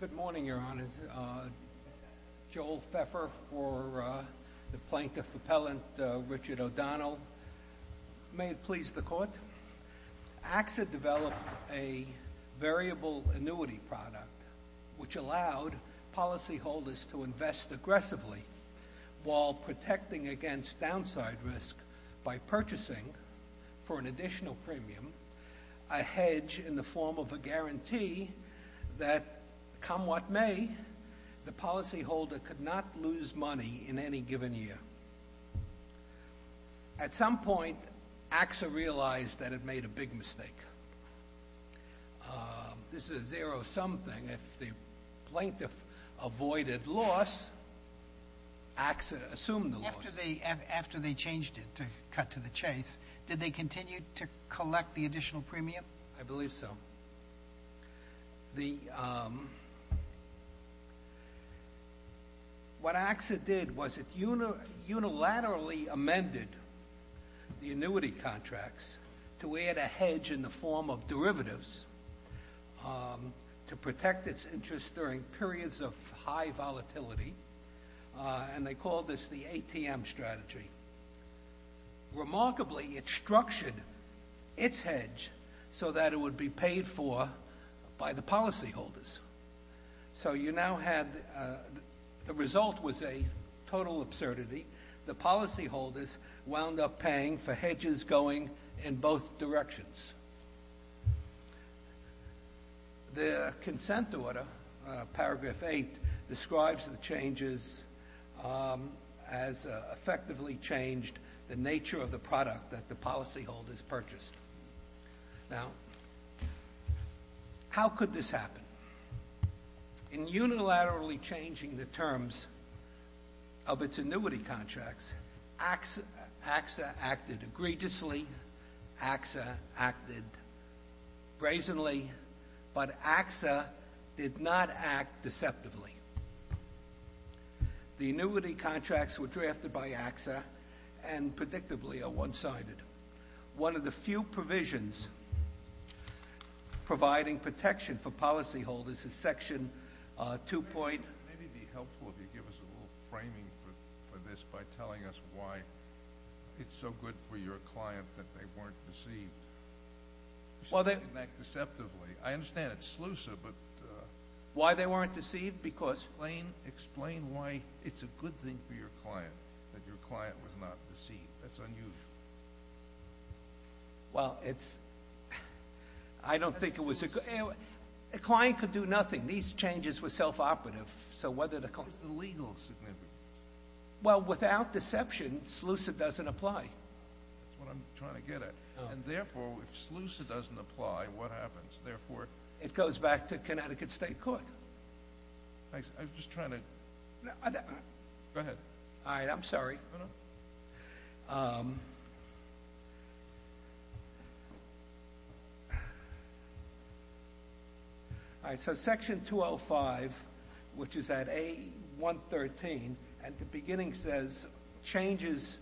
Good morning, Your Honors. Joel Pfeffer for the Plaintiff Appellant Richard O'Donnell. May it please the Court, AXA developed a variable annuity product which allowed policyholders to invest aggressively while protecting against downside risk by purchasing for an additional premium, a hedge in the form of a guarantee that, come what may, the policyholder could not lose money in any given year. At some point, AXA realized that it made a big mistake. This is a zero-sum thing. If the plaintiff avoided loss, AXA assumed the loss. After they changed it to cut to the chase, did they continue to collect the additional premium? I believe so. What AXA did was it unilaterally amended the annuity contracts to add a hedge in the form of derivatives to protect its interest during periods of high volatility, and they called this the ATM strategy. Remarkably, it structured its hedge so that it would be paid for by the policyholders. So you now had the result was a total absurdity. The policyholders wound up paying for hedges going in both directions. The consent order, paragraph 8, describes the changes as effectively changed the nature of the product that the policyholders purchased. How could this happen? In unilaterally changing the terms of its annuity contracts, AXA acted egregiously. AXA acted brazenly, but AXA did not act deceptively. The annuity contracts were drafted by AXA and predictably are one-sided. One of the few provisions providing protection for policyholders is section 2. Maybe it would be helpful if you give us a little framing for this by telling us why it's so good for your client that they weren't deceived. You said they didn't act deceptively. I understand it's sluicer, but... Why they weren't deceived, because... Explain why it's a good thing for your client that your client was not deceived. That's unusual. Well, it's... I don't think it was a good... A client could do nothing. These changes were self-operative, so whether the... What's the legal significance? Well, without deception, sluicer doesn't apply. That's what I'm trying to get at. And therefore, if sluicer doesn't apply, what happens? Therefore... It goes back to Connecticut State Court. I was just trying to... Go ahead. All right, I'm sorry. No, no. All right, so section 205, which is at A113, at the beginning says, changes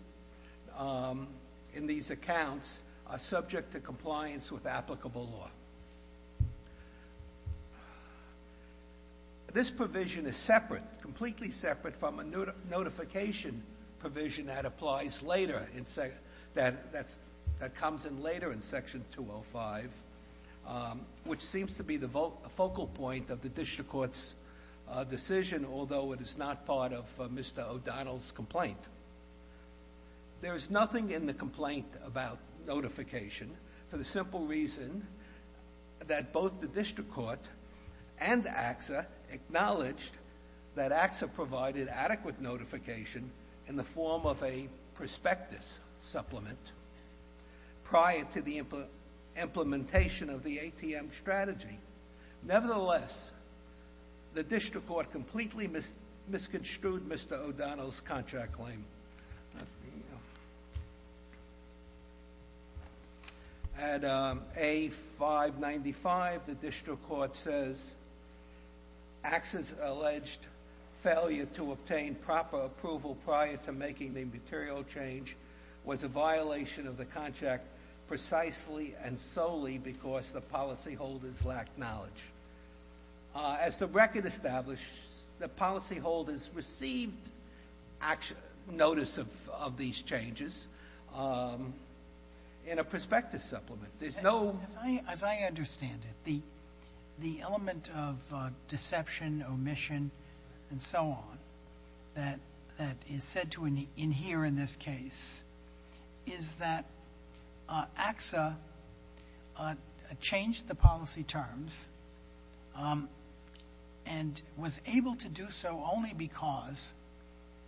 in these accounts are subject to compliance with applicable law. This provision is separate, completely separate from a notification provision that applies later, that comes in later in section 205, which seems to be the focal point of the district court's decision, although it is not part of Mr. O'Donnell's complaint. There is nothing in the complaint about notification for the simple reason that both the district court and AXA acknowledged that AXA provided adequate notification in the form of a prospectus supplement prior to the implementation of the ATM strategy. Nevertheless, the district court completely misconstrued Mr. O'Donnell's contract claim. Let me... At A595, the district court says, AXA's alleged failure to obtain proper approval prior to making the material change was a violation of the contract precisely and solely because the policyholders lacked knowledge. As the record established, the policyholders received notice of these changes in a prospectus supplement. There's no... As I understand it, the element of deception, omission, and so on, that is said to adhere in this case, is that AXA changed the policy terms and was able to do so only because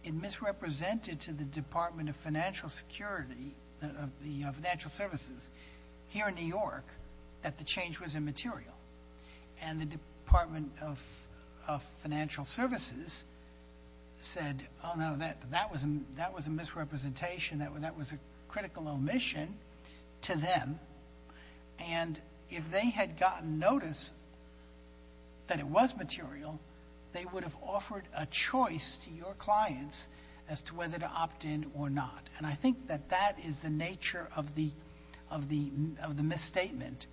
it misrepresented to the Department of Financial Security, of the financial services here in New York, that the change was immaterial. And the Department of Financial Services said, oh, no, that was a misrepresentation, that was a critical omission to them. And if they had gotten notice that it was material, they would have offered a choice to your clients as to whether to opt in or not. And I think that that is the nature of the misstatement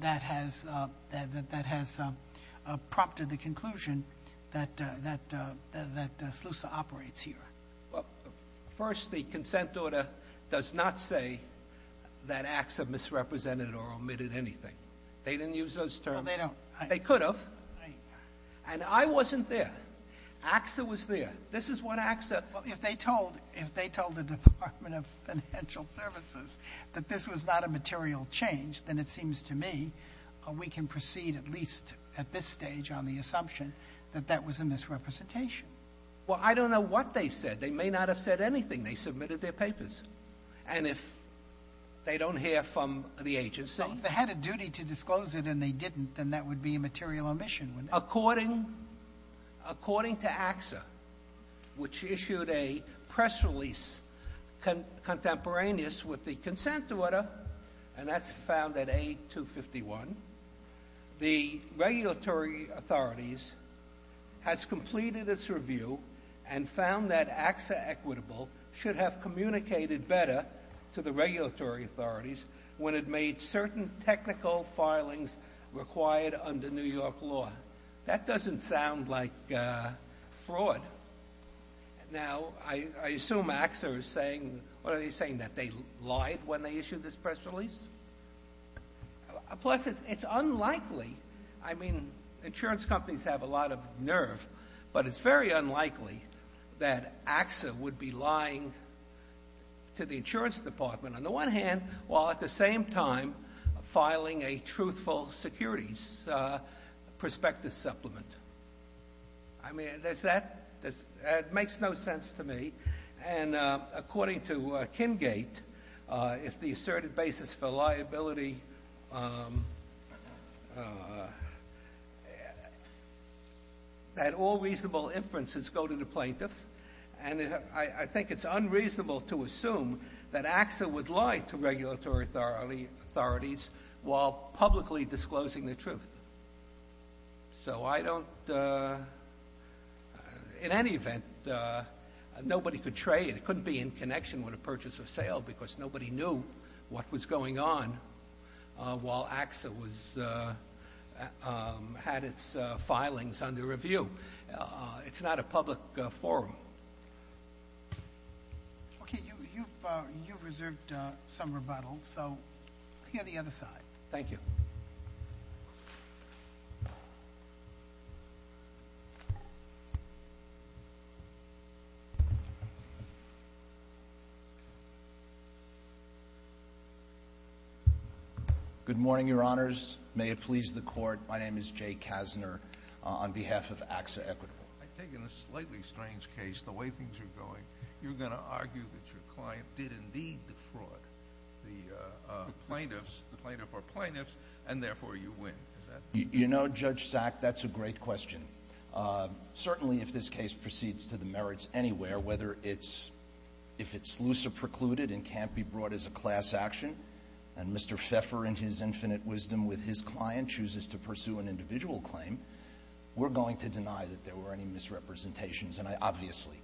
that has prompted the conclusion that SLUSA operates here. Well, first, the consent order does not say that AXA misrepresented or omitted anything. They didn't use those terms. No, they don't. They could have. And I wasn't there. AXA was there. This is what AXA... Well, if they told the Department of Financial Services that this was not a material change, then it seems to me we can proceed at least at this stage on the assumption that that was a misrepresentation. Well, I don't know what they said. They may not have said anything. They submitted their papers. And if they don't hear from the agency... Well, if they had a duty to disclose it and they didn't, then that would be a material omission. According to AXA, which issued a press release contemporaneous with the consent order, and that's found at A251, the regulatory authorities has completed its review and found that AXA equitable should have communicated better to the regulatory authorities when it made certain technical filings required under New York law. That doesn't sound like fraud. Now, I assume AXA was saying... lied when they issued this press release. Plus, it's unlikely... I mean, insurance companies have a lot of nerve, but it's very unlikely that AXA would be lying to the insurance department, on the one hand, while at the same time filing a truthful securities prospective supplement. I mean, does that... It makes no sense to me. And according to Kingate, if the asserted basis for liability... that all reasonable inferences go to the plaintiff, and I think it's unreasonable to assume that AXA would lie to regulatory authorities while publicly disclosing the truth. So, I don't... In any event, nobody could trade. It couldn't be in connection with a purchase or sale because nobody knew what was going on while AXA was... had its filings under review. It's not a public forum. Okay, you've reserved some rebuttal, so let's hear the other side. Thank you. Thank you. Good morning, your honors. May it please the court, my name is Jay Kassner on behalf of AXA Equitable. I think in a slightly strange case, the way things are going, you're going to argue that your client did indeed defraud the plaintiffs, the plaintiff or plaintiffs, and therefore you win. You know, Judge Sack, that's a great question. Certainly, if this case proceeds to the merits anywhere, whether it's... if it's looser precluded and can't be brought as a class action, and Mr. Pfeffer in his infinite wisdom with his client chooses to pursue an individual claim, we're going to deny that there were any misrepresentations, and I obviously...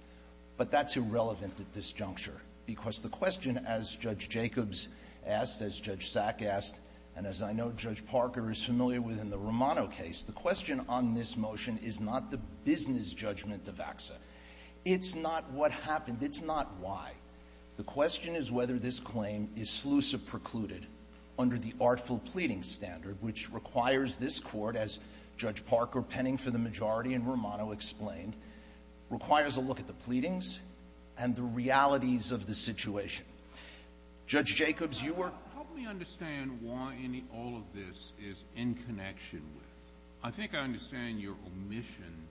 but that's irrelevant at this juncture, because the question, as Judge Jacobs asked, as Judge Sack asked, and as I know Judge Parker is familiar with in the Romano case, the question on this motion is not the business judgment of AXA. It's not what happened. It's not why. The question is whether this claim is sleutha precluded under the artful pleading standard, which requires this court, as Judge Parker penning for the majority in Romano explained, requires a look at the pleadings and the realities of the situation. Judge Jacobs, you were... all of this is in connection with... I think I understand your omission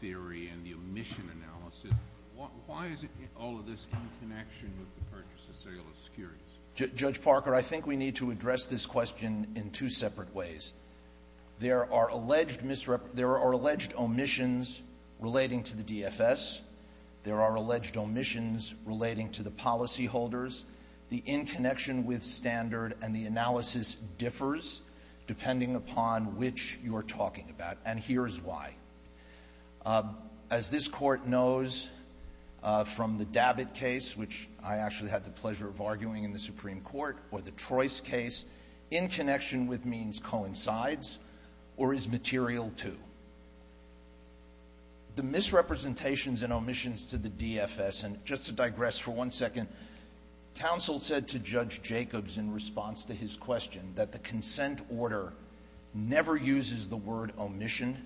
theory and the omission analysis. Why is it all of this in connection with the purchase of cellular securities? Judge Parker, I think we need to address this question in two separate ways. There are alleged omissions relating to the DFS. There are alleged omissions relating to the policyholders. The in connection with standard and the analysis differs depending upon which you're talking about. And here's why. As this court knows from the Dabit case, which I actually had the pleasure of arguing in the Supreme Court, or the Trois case, in connection with means coincides or is material to. The misrepresentations and omissions to the DFS, and just to digress for one second, counsel said to Judge Jacobs in response to his question that the consent order never uses the word omission.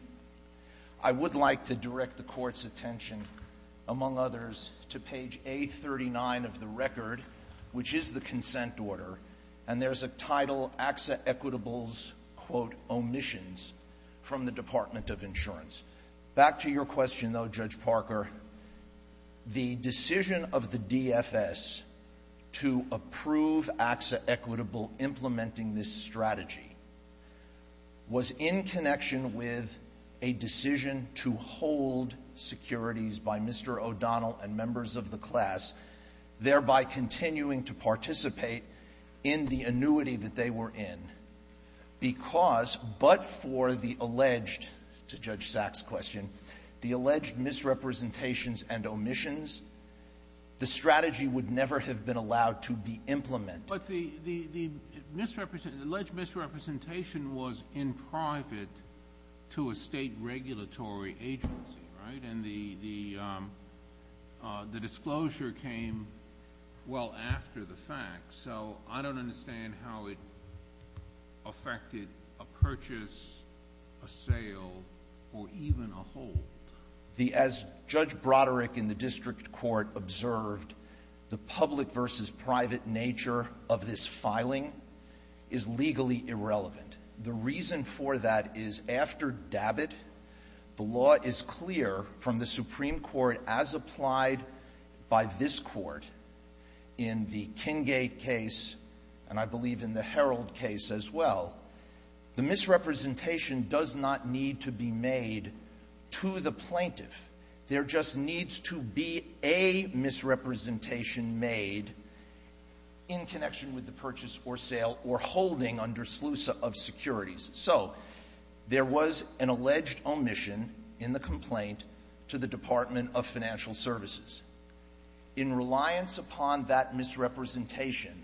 I would like to direct the court's attention, among others, to page A39 of the record, which is the consent order. And there's a title, AXA Equitables, quote, omissions from the Department of Insurance. Back to your question, though, Judge Parker. The decision of the DFS to approve AXA Equitable implementing this strategy was in connection with a decision to hold securities by Mr. O'Donnell and members of the class, thereby continuing to participate in the annuity that they were in, because, but for the alleged, to Judge Sack's question, the alleged misrepresentations and omissions, the strategy would never have been allowed to be implemented. But the misrepresentation, the alleged misrepresentation was in private to a state regulatory agency, right? And the disclosure came well after the fact. So I don't understand how it affected a purchase, a sale, or even a hold. As Judge Broderick in the district court observed, the public versus private nature of this filing is legally irrelevant. The reason for that is, after Dabbitt, the law is clear from the Supreme Court, as applied by this Court in the Kingate case, and I believe in the Herald case as well, the misrepresentation does not need to be made to the plaintiff. There just needs to be a misrepresentation made in connection with the purchase, or sale, or holding under SLUSA of securities. So there was an alleged omission in the complaint to the Department of Financial Services. In reliance upon that misrepresentation,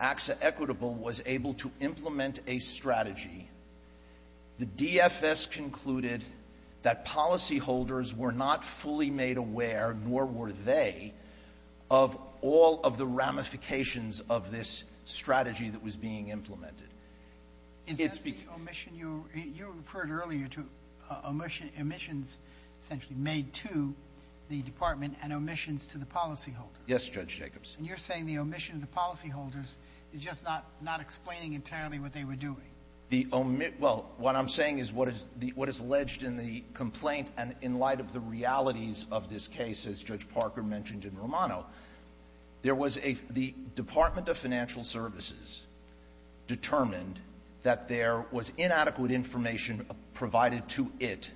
AXA Equitable was able to implement a strategy. The DFS concluded that policyholders were not fully made aware, nor were they, of all of the ramifications of this strategy that was being implemented. Is that the omission you referred earlier to, omissions essentially made to the Department and omissions to the policyholders? Yes, Judge Jacobs. And you're saying the omission of the policyholders is just not explaining entirely what they were doing? The omission — well, what I'm saying is what is alleged in the complaint, and in light of the realities of this case, as Judge Parker mentioned in Romano, there was a — the Department of Financial Services determined that there was inadequate information provided to it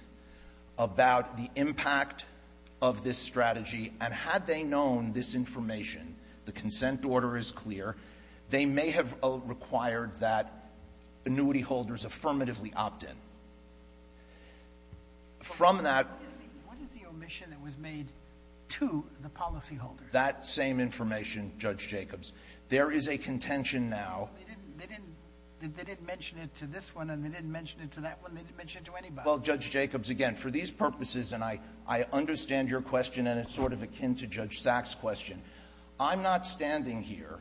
about the impact of this strategy, and had they known this information — the consent order is clear — they may have required that annuity holders affirmatively opt in. From that — What is the — what is the omission that was made to the policyholders? That same information, Judge Jacobs. There is a contention now — They didn't — they didn't — they didn't mention it to this one, and they didn't mention it to that one. They didn't mention it to anybody. Well, Judge Jacobs, again, for these purposes, and I — I understand your question, and it's sort of akin to Judge Sack's question. I'm not standing here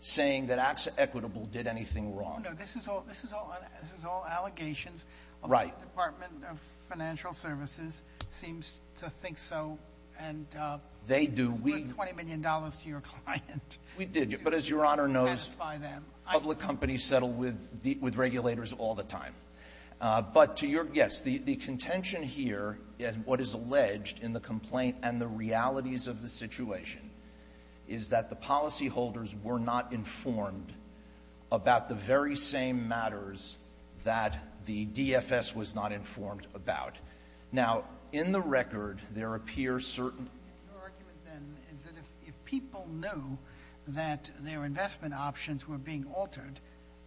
saying that Acts Equitable did anything wrong. No, no. This is all — this is all — this is all allegations. Right. The Department of Financial Services seems to think so, and — They do. $20 million to your client. We did. But as Your Honor knows, public companies settle with regulators all the time. But to your — yes, the contention here, and what is alleged in the complaint and the realities of the situation, is that the policyholders were not informed about the very same matters that the DFS was not informed about. Now, in the record, there appear certain — Your argument, then, is that if people knew that their investment options were being altered,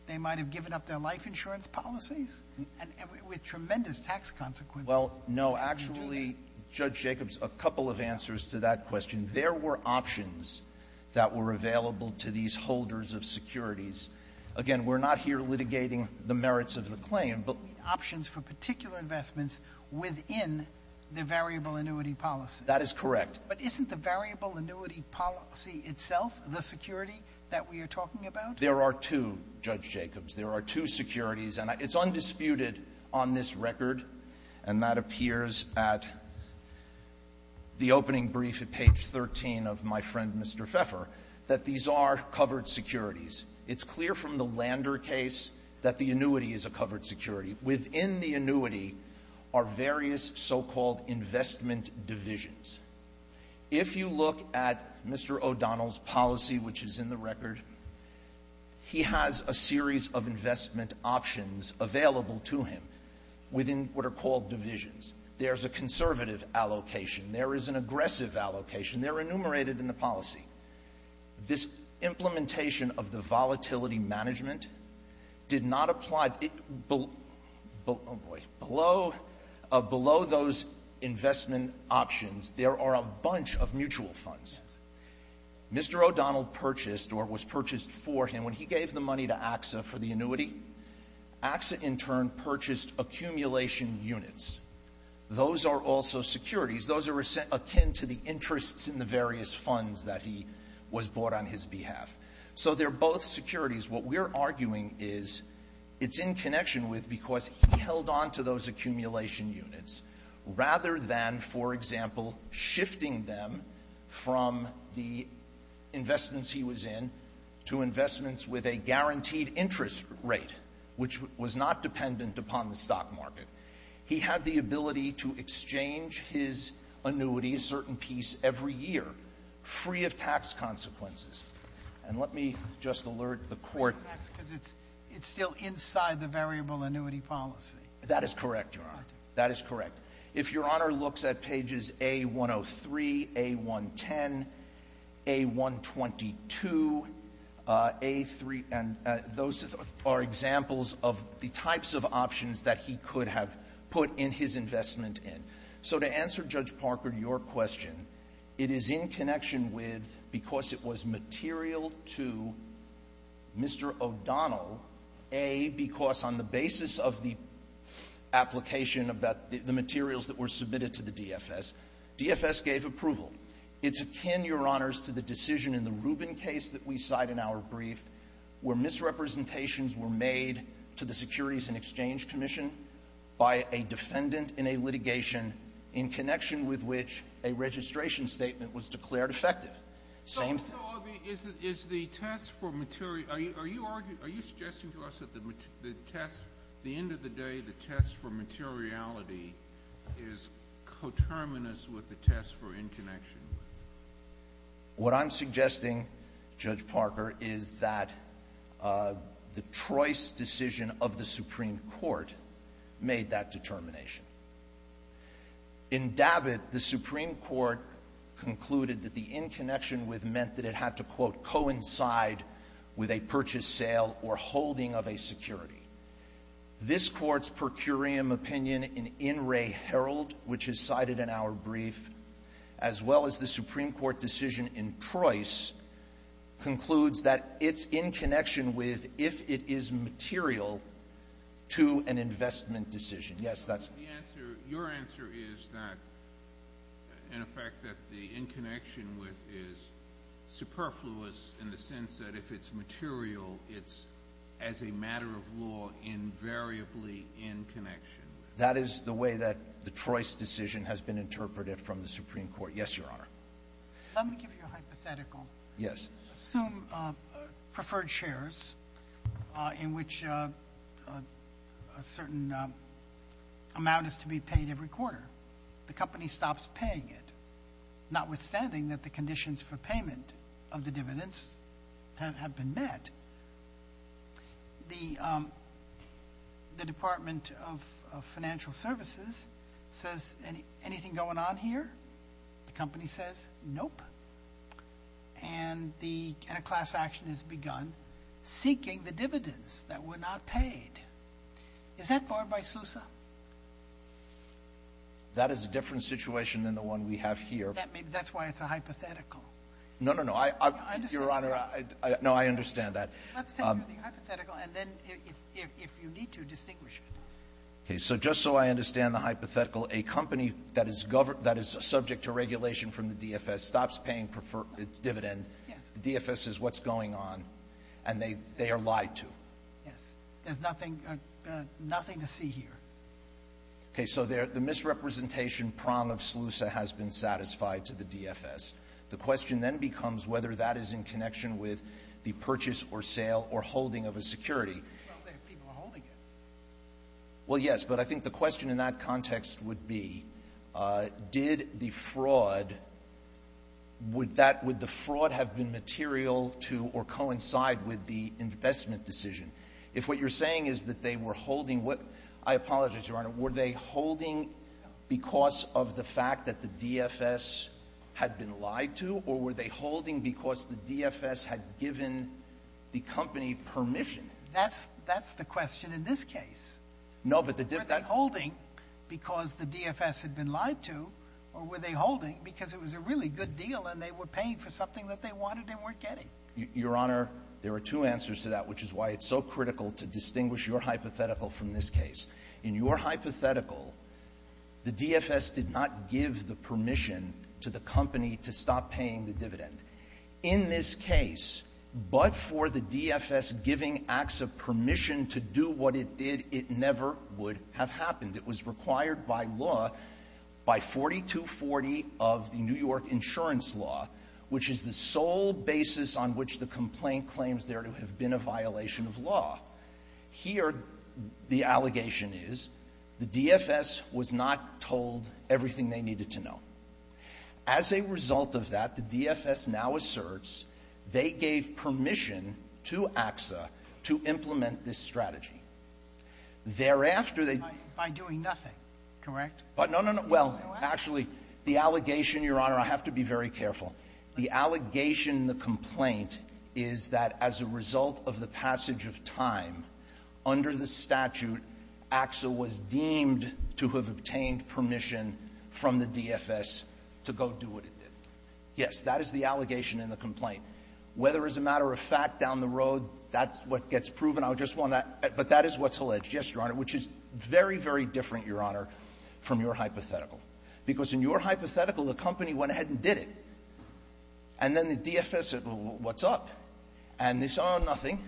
they might have given up their life insurance policies with tremendous tax consequences. Well, no. Actually, Judge Jacobs, a couple of answers to that question. There were options that were available to these holders of securities. Again, we're not here litigating the merits of the claim, but — Options for particular investments within the variable annuity policy. That is correct. But isn't the variable annuity policy itself the security that we are talking about? There are two, Judge Jacobs. There are two securities. And it's undisputed on this record, and that appears at the opening brief at page 13 of my friend Mr. Pfeffer, that these are covered securities. It's clear from the Lander case that the annuity is a covered security. Within the annuity are various so-called investment divisions. If you look at Mr. O'Donnell's policy, which is in the record, he has a series of investment options available to him within what are called divisions. There's a conservative allocation. There is an aggressive allocation. They're enumerated in the policy. This implementation of the volatility management did not apply — oh, boy. Below — below those investment options, there are a bunch of mutual funds. Mr. O'Donnell purchased, or was purchased for him, when he gave the money to AXA for the annuity, AXA in turn purchased accumulation units. Those are also securities. Those are akin to the interests in the various funds that he was bought on his behalf. So they're both securities. What we're arguing is it's in connection with because he held on to those accumulation units rather than, for example, shifting them from the investments he was in to investments with a guaranteed interest rate, which was not dependent upon the stock market. He had the ability to exchange his annuity, a certain piece, every year, free of tax consequences. And let me just alert the Court. That's because it's — it's still inside the variable annuity policy. That is correct, Your Honor. That is correct. If Your Honor looks at pages A-103, A-110, A-122, A-3 — and those are examples of the types of options that he could have put in his investment in. So to answer Judge Parker, your question, it is in connection with because it was material to Mr. O'Donnell, A, because on the basis of the application about the materials that were submitted to the DFS, DFS gave approval. It's akin, Your Honors, to the decision in the Rubin case that we cite in our brief, where misrepresentations were made to the Securities and Exchange Commission by a defendant in a litigation in connection with which a registration statement was declared effective. Same thing. So is the test for material — are you arguing — are you suggesting to us that the test — the end of the day, the test for materiality is coterminous with the test for inconnection? What I'm suggesting, Judge Parker, is that the Troy's decision of the Supreme Court made that determination. In Dabbitt, the Supreme Court concluded that the inconnection with meant that it had to, quote, coincide with a purchase, sale, or holding of a security. This Court's per curiam opinion in In Re Herald, which is cited in our brief, as well as the Supreme Court decision in Troy's, concludes that it's in connection with if it is material to an investment decision. Yes, that's — The answer — your answer is that — in effect, that the inconnection with is superfluous in the sense that if it's material, it's, as a matter of law, invariably in connection. That is the way that the Troy's decision has been interpreted from the Supreme Court. Yes, Your Honor. Let me give you a hypothetical. Yes. Assume preferred shares in which a certain amount is to be paid every quarter. The company stops paying it, notwithstanding that the conditions for payment of the dividends have been met. The — the Department of Financial Services says, anything going on here? The company says, nope. And the — and a class action has begun seeking the dividends that were not paid. Is that barred by SUSA? That is a different situation than the one we have here. That's why it's a hypothetical. No, no, no. I — I understand. Your Honor, I — no, I understand that. Let's take the hypothetical, and then if — if you need to, distinguish it. Okay. So just so I understand the hypothetical, a company that is — that is subject to regulation from the DFS stops paying preferred — dividend. Yes. The DFS is what's going on, and they — they are lied to. Yes. There's nothing — nothing to see here. Okay. So the misrepresentation prong of SLUSA has been satisfied to the DFS. The question then becomes whether that is in connection with the purchase or sale or holding of a security. Well, they have people holding it. Well, yes. But I think the question in that context would be, did the fraud — would that — would the fraud have been material to or coincide with the investment decision? If what you're saying is that they were holding — I apologize, Your Honor. Were they holding because of the fact that the DFS had been lied to, or were they holding because the DFS had given the company permission? That's — that's the question in this case. No, but the — Were they holding because the DFS had been lied to, or were they holding because it was a really good deal and they were paying for something that they wanted and weren't getting? Your Honor, there are two answers to that, which is why it's so critical to distinguish your hypothetical from this case. In your hypothetical, the DFS did not give the permission to the company to stop paying the dividend. In this case, but for the DFS giving acts of permission to do what it did, it never would have happened. It was required by law, by 4240 of the New York insurance law, which is the sole basis on which the complaint claims there to have been a violation of law. Here, the allegation is the DFS was not told everything they needed to know. As a result of that, the DFS now asserts they gave permission to AXA to implement this strategy. Thereafter, they — By doing nothing, correct? No, no, no. Well, actually, the allegation, Your Honor, I have to be very careful. The allegation in the complaint is that as a result of the passage of time, under the statute, AXA was deemed to have obtained permission from the DFS to go do what it did. Yes, that is the allegation in the complaint. Whether as a matter of fact down the road, that's what gets proven. I just want to — but that is what's alleged. Yes, Your Honor, which is very, very different, Your Honor, from your hypothetical. Because in your hypothetical, the company went ahead and did it. And then the DFS said, well, what's up? And they said, oh, nothing.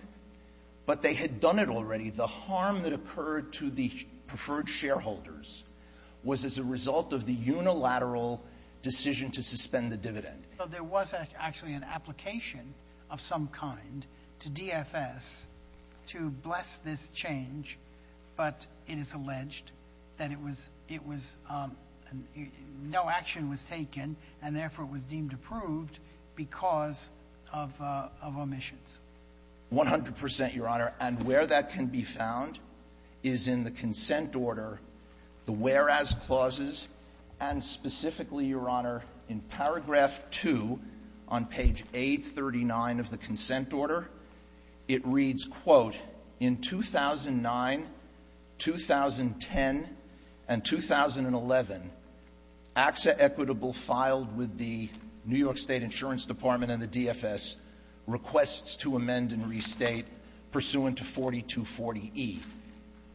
But they had done it already. The harm that occurred to the preferred shareholders was as a result of the unilateral decision to suspend the dividend. There was actually an application of some kind to DFS to bless this change, but it is — no action was taken, and therefore it was deemed approved because of omissions. 100 percent, Your Honor. And where that can be found is in the consent order, the whereas clauses, and specifically, Your Honor, in paragraph 2 on page 839 of the consent order. It reads, quote, in 2009, 2010, and 2011, AXA equitable filed with the New York State Insurance Department and the DFS requests to amend and restate pursuant to 4240e.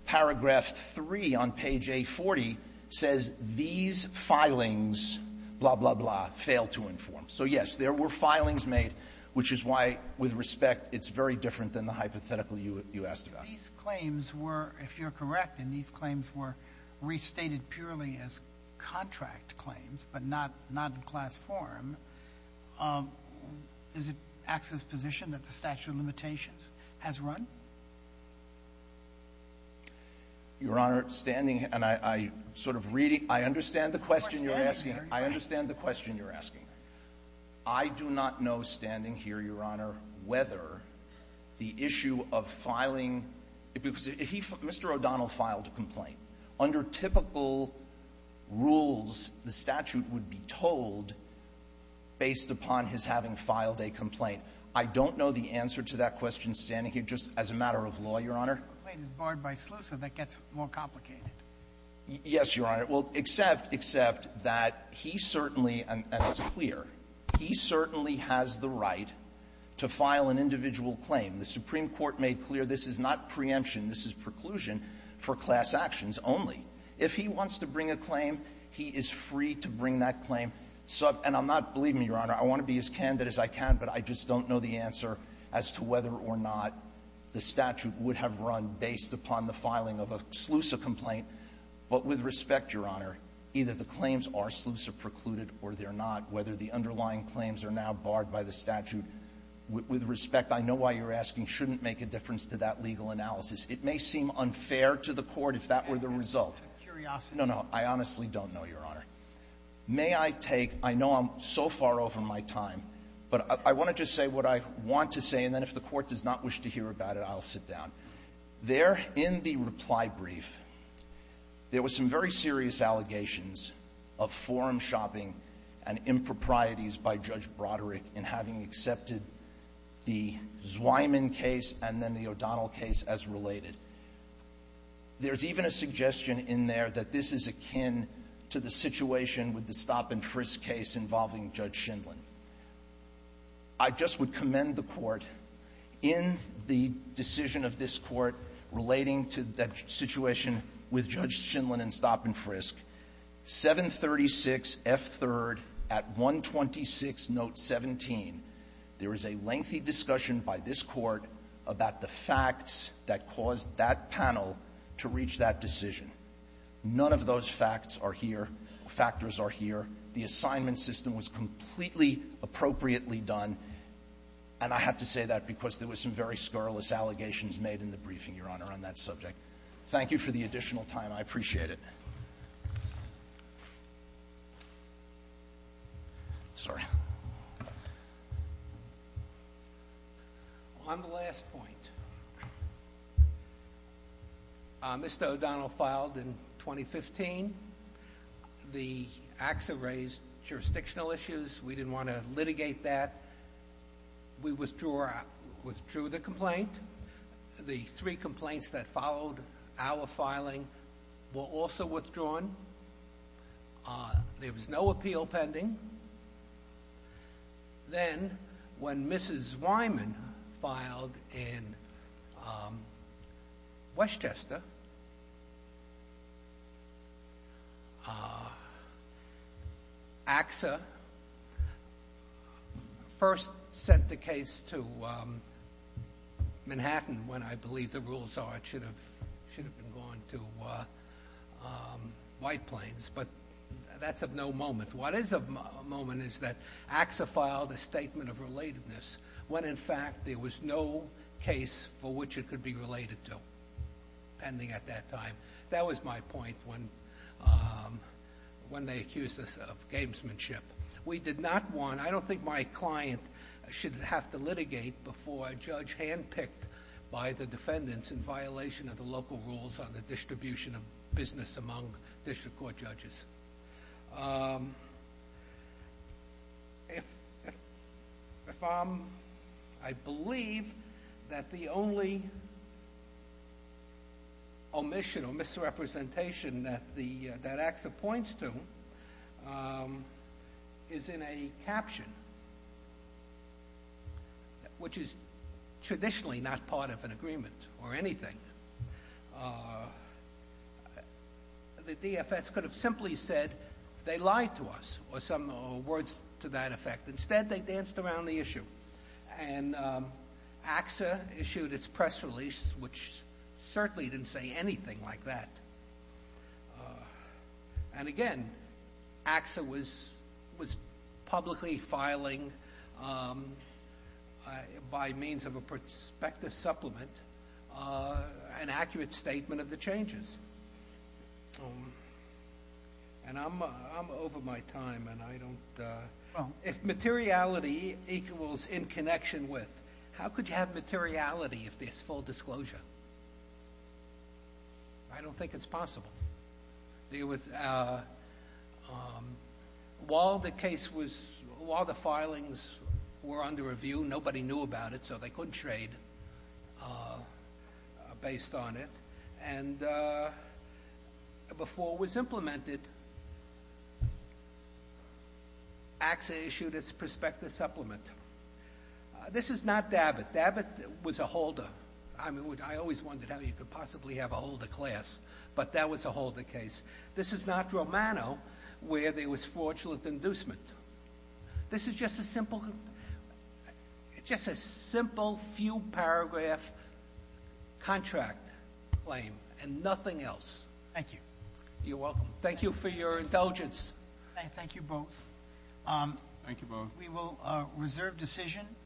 Paragraph 3 on page 840 says these filings, blah, blah, blah, fail to inform. So, yes, there were filings made, which is why, with respect, it's very different than the hypothetical you asked about. Sotomayor, if you're correct, and these claims were restated purely as contract claims, but not in class form, is it AXA's position that the statute of limitations has run? Your Honor, standing — and I sort of read it. I understand the question you're asking. I understand the question you're asking. I do not know, standing here, Your Honor, whether the issue of filing — Mr. O'Donnell filed a complaint. Under typical rules, the statute would be told based upon his having filed a complaint. I don't know the answer to that question, standing here, just as a matter of law, Your Honor. The complaint is barred by SLUSA. That gets more complicated. Yes, Your Honor. Well, except, except that he certainly — and it's clear — he certainly has the right to file an individual claim. The Supreme Court made clear this is not preemption. This is preclusion for class actions only. If he wants to bring a claim, he is free to bring that claim. And I'm not — believe me, Your Honor, I want to be as candid as I can, but I just don't know the answer as to whether or not the statute would have run based upon the filing of a SLUSA complaint. But with respect, Your Honor, either the claims are SLUSA-precluded or they're not, whether the underlying claims are now barred by the statute. With respect, I know why you're asking, shouldn't make a difference to that legal analysis. It may seem unfair to the Court if that were the result. No, no. I honestly don't know, Your Honor. May I take — I know I'm so far over my time, but I want to just say what I want to say, and then if the Court does not wish to hear about it, I'll sit down. There, in the reply brief, there were some very serious allegations of forum shopping and improprieties by Judge Broderick in having accepted the Zweiman case and then the O'Donnell case as related. There's even a suggestion in there that this is akin to the situation with the stop-and-frisk case involving Judge Shindlin. I just would commend the Court in the decision of this Court relating to that situation with Judge Shindlin and stop-and-frisk, 736F3rd at 126, note 17, there is a lengthy discussion by this Court about the facts that caused that panel to reach that decision. None of those facts are here, factors are here. The assignment system was completely appropriately done, and I have to say that because there were some very scurrilous allegations made in the briefing, Your Honor, on that subject. Thank you for the additional time. I appreciate it. Sorry. On the last point, Mr. O'Donnell filed in 2015. The acts have raised jurisdictional issues. We didn't want to litigate that. We withdrew the complaint. The three complaints that followed our filing were also withdrawn. There was no appeal pending. Then, when Mrs. Wyman filed in Westchester, AXA first sent the case to Manhattan when I believe the rules are it should have been gone to White Plains, but that's of no moment. What is of moment is that AXA filed a statement of relatedness when in fact there was no case for which it could be related to, pending at that time. That was my point when they accused us of gamesmanship. We did not want, I don't think my client should have to litigate before a judge handpicked by the defendants in violation of the local rules on the distribution of business among district court judges. If I'm, I believe that the only omission or misrepresentation that AXA points to is in a caption, which is traditionally not part of an agreement or anything. The DFS could have simply said they lied to us or some words to that effect. Instead, they danced around the issue. And AXA issued its press release, which certainly didn't say anything like that. And again, AXA was publicly filing by means of a prospectus supplement an accurate statement of the changes. And I'm over my time and I don't, if materiality equals in connection with, how could you have materiality if there's full disclosure? I don't think it's possible. There was, while the case was, while the filings were under review, nobody knew about it, so they couldn't trade based on it. And before it was implemented, AXA issued its prospectus supplement. This is not Dabbitt. Dabbitt was a holder. I always wondered how you could possibly have a holder class, but that was a holder case. This is not Romano, where there was fraudulent inducement. This is just a simple, just a simple few paragraph contract claim and nothing else. Thank you. You're welcome. Thank you for your indulgence. Thank you both. Thank you both. We will reserve decision.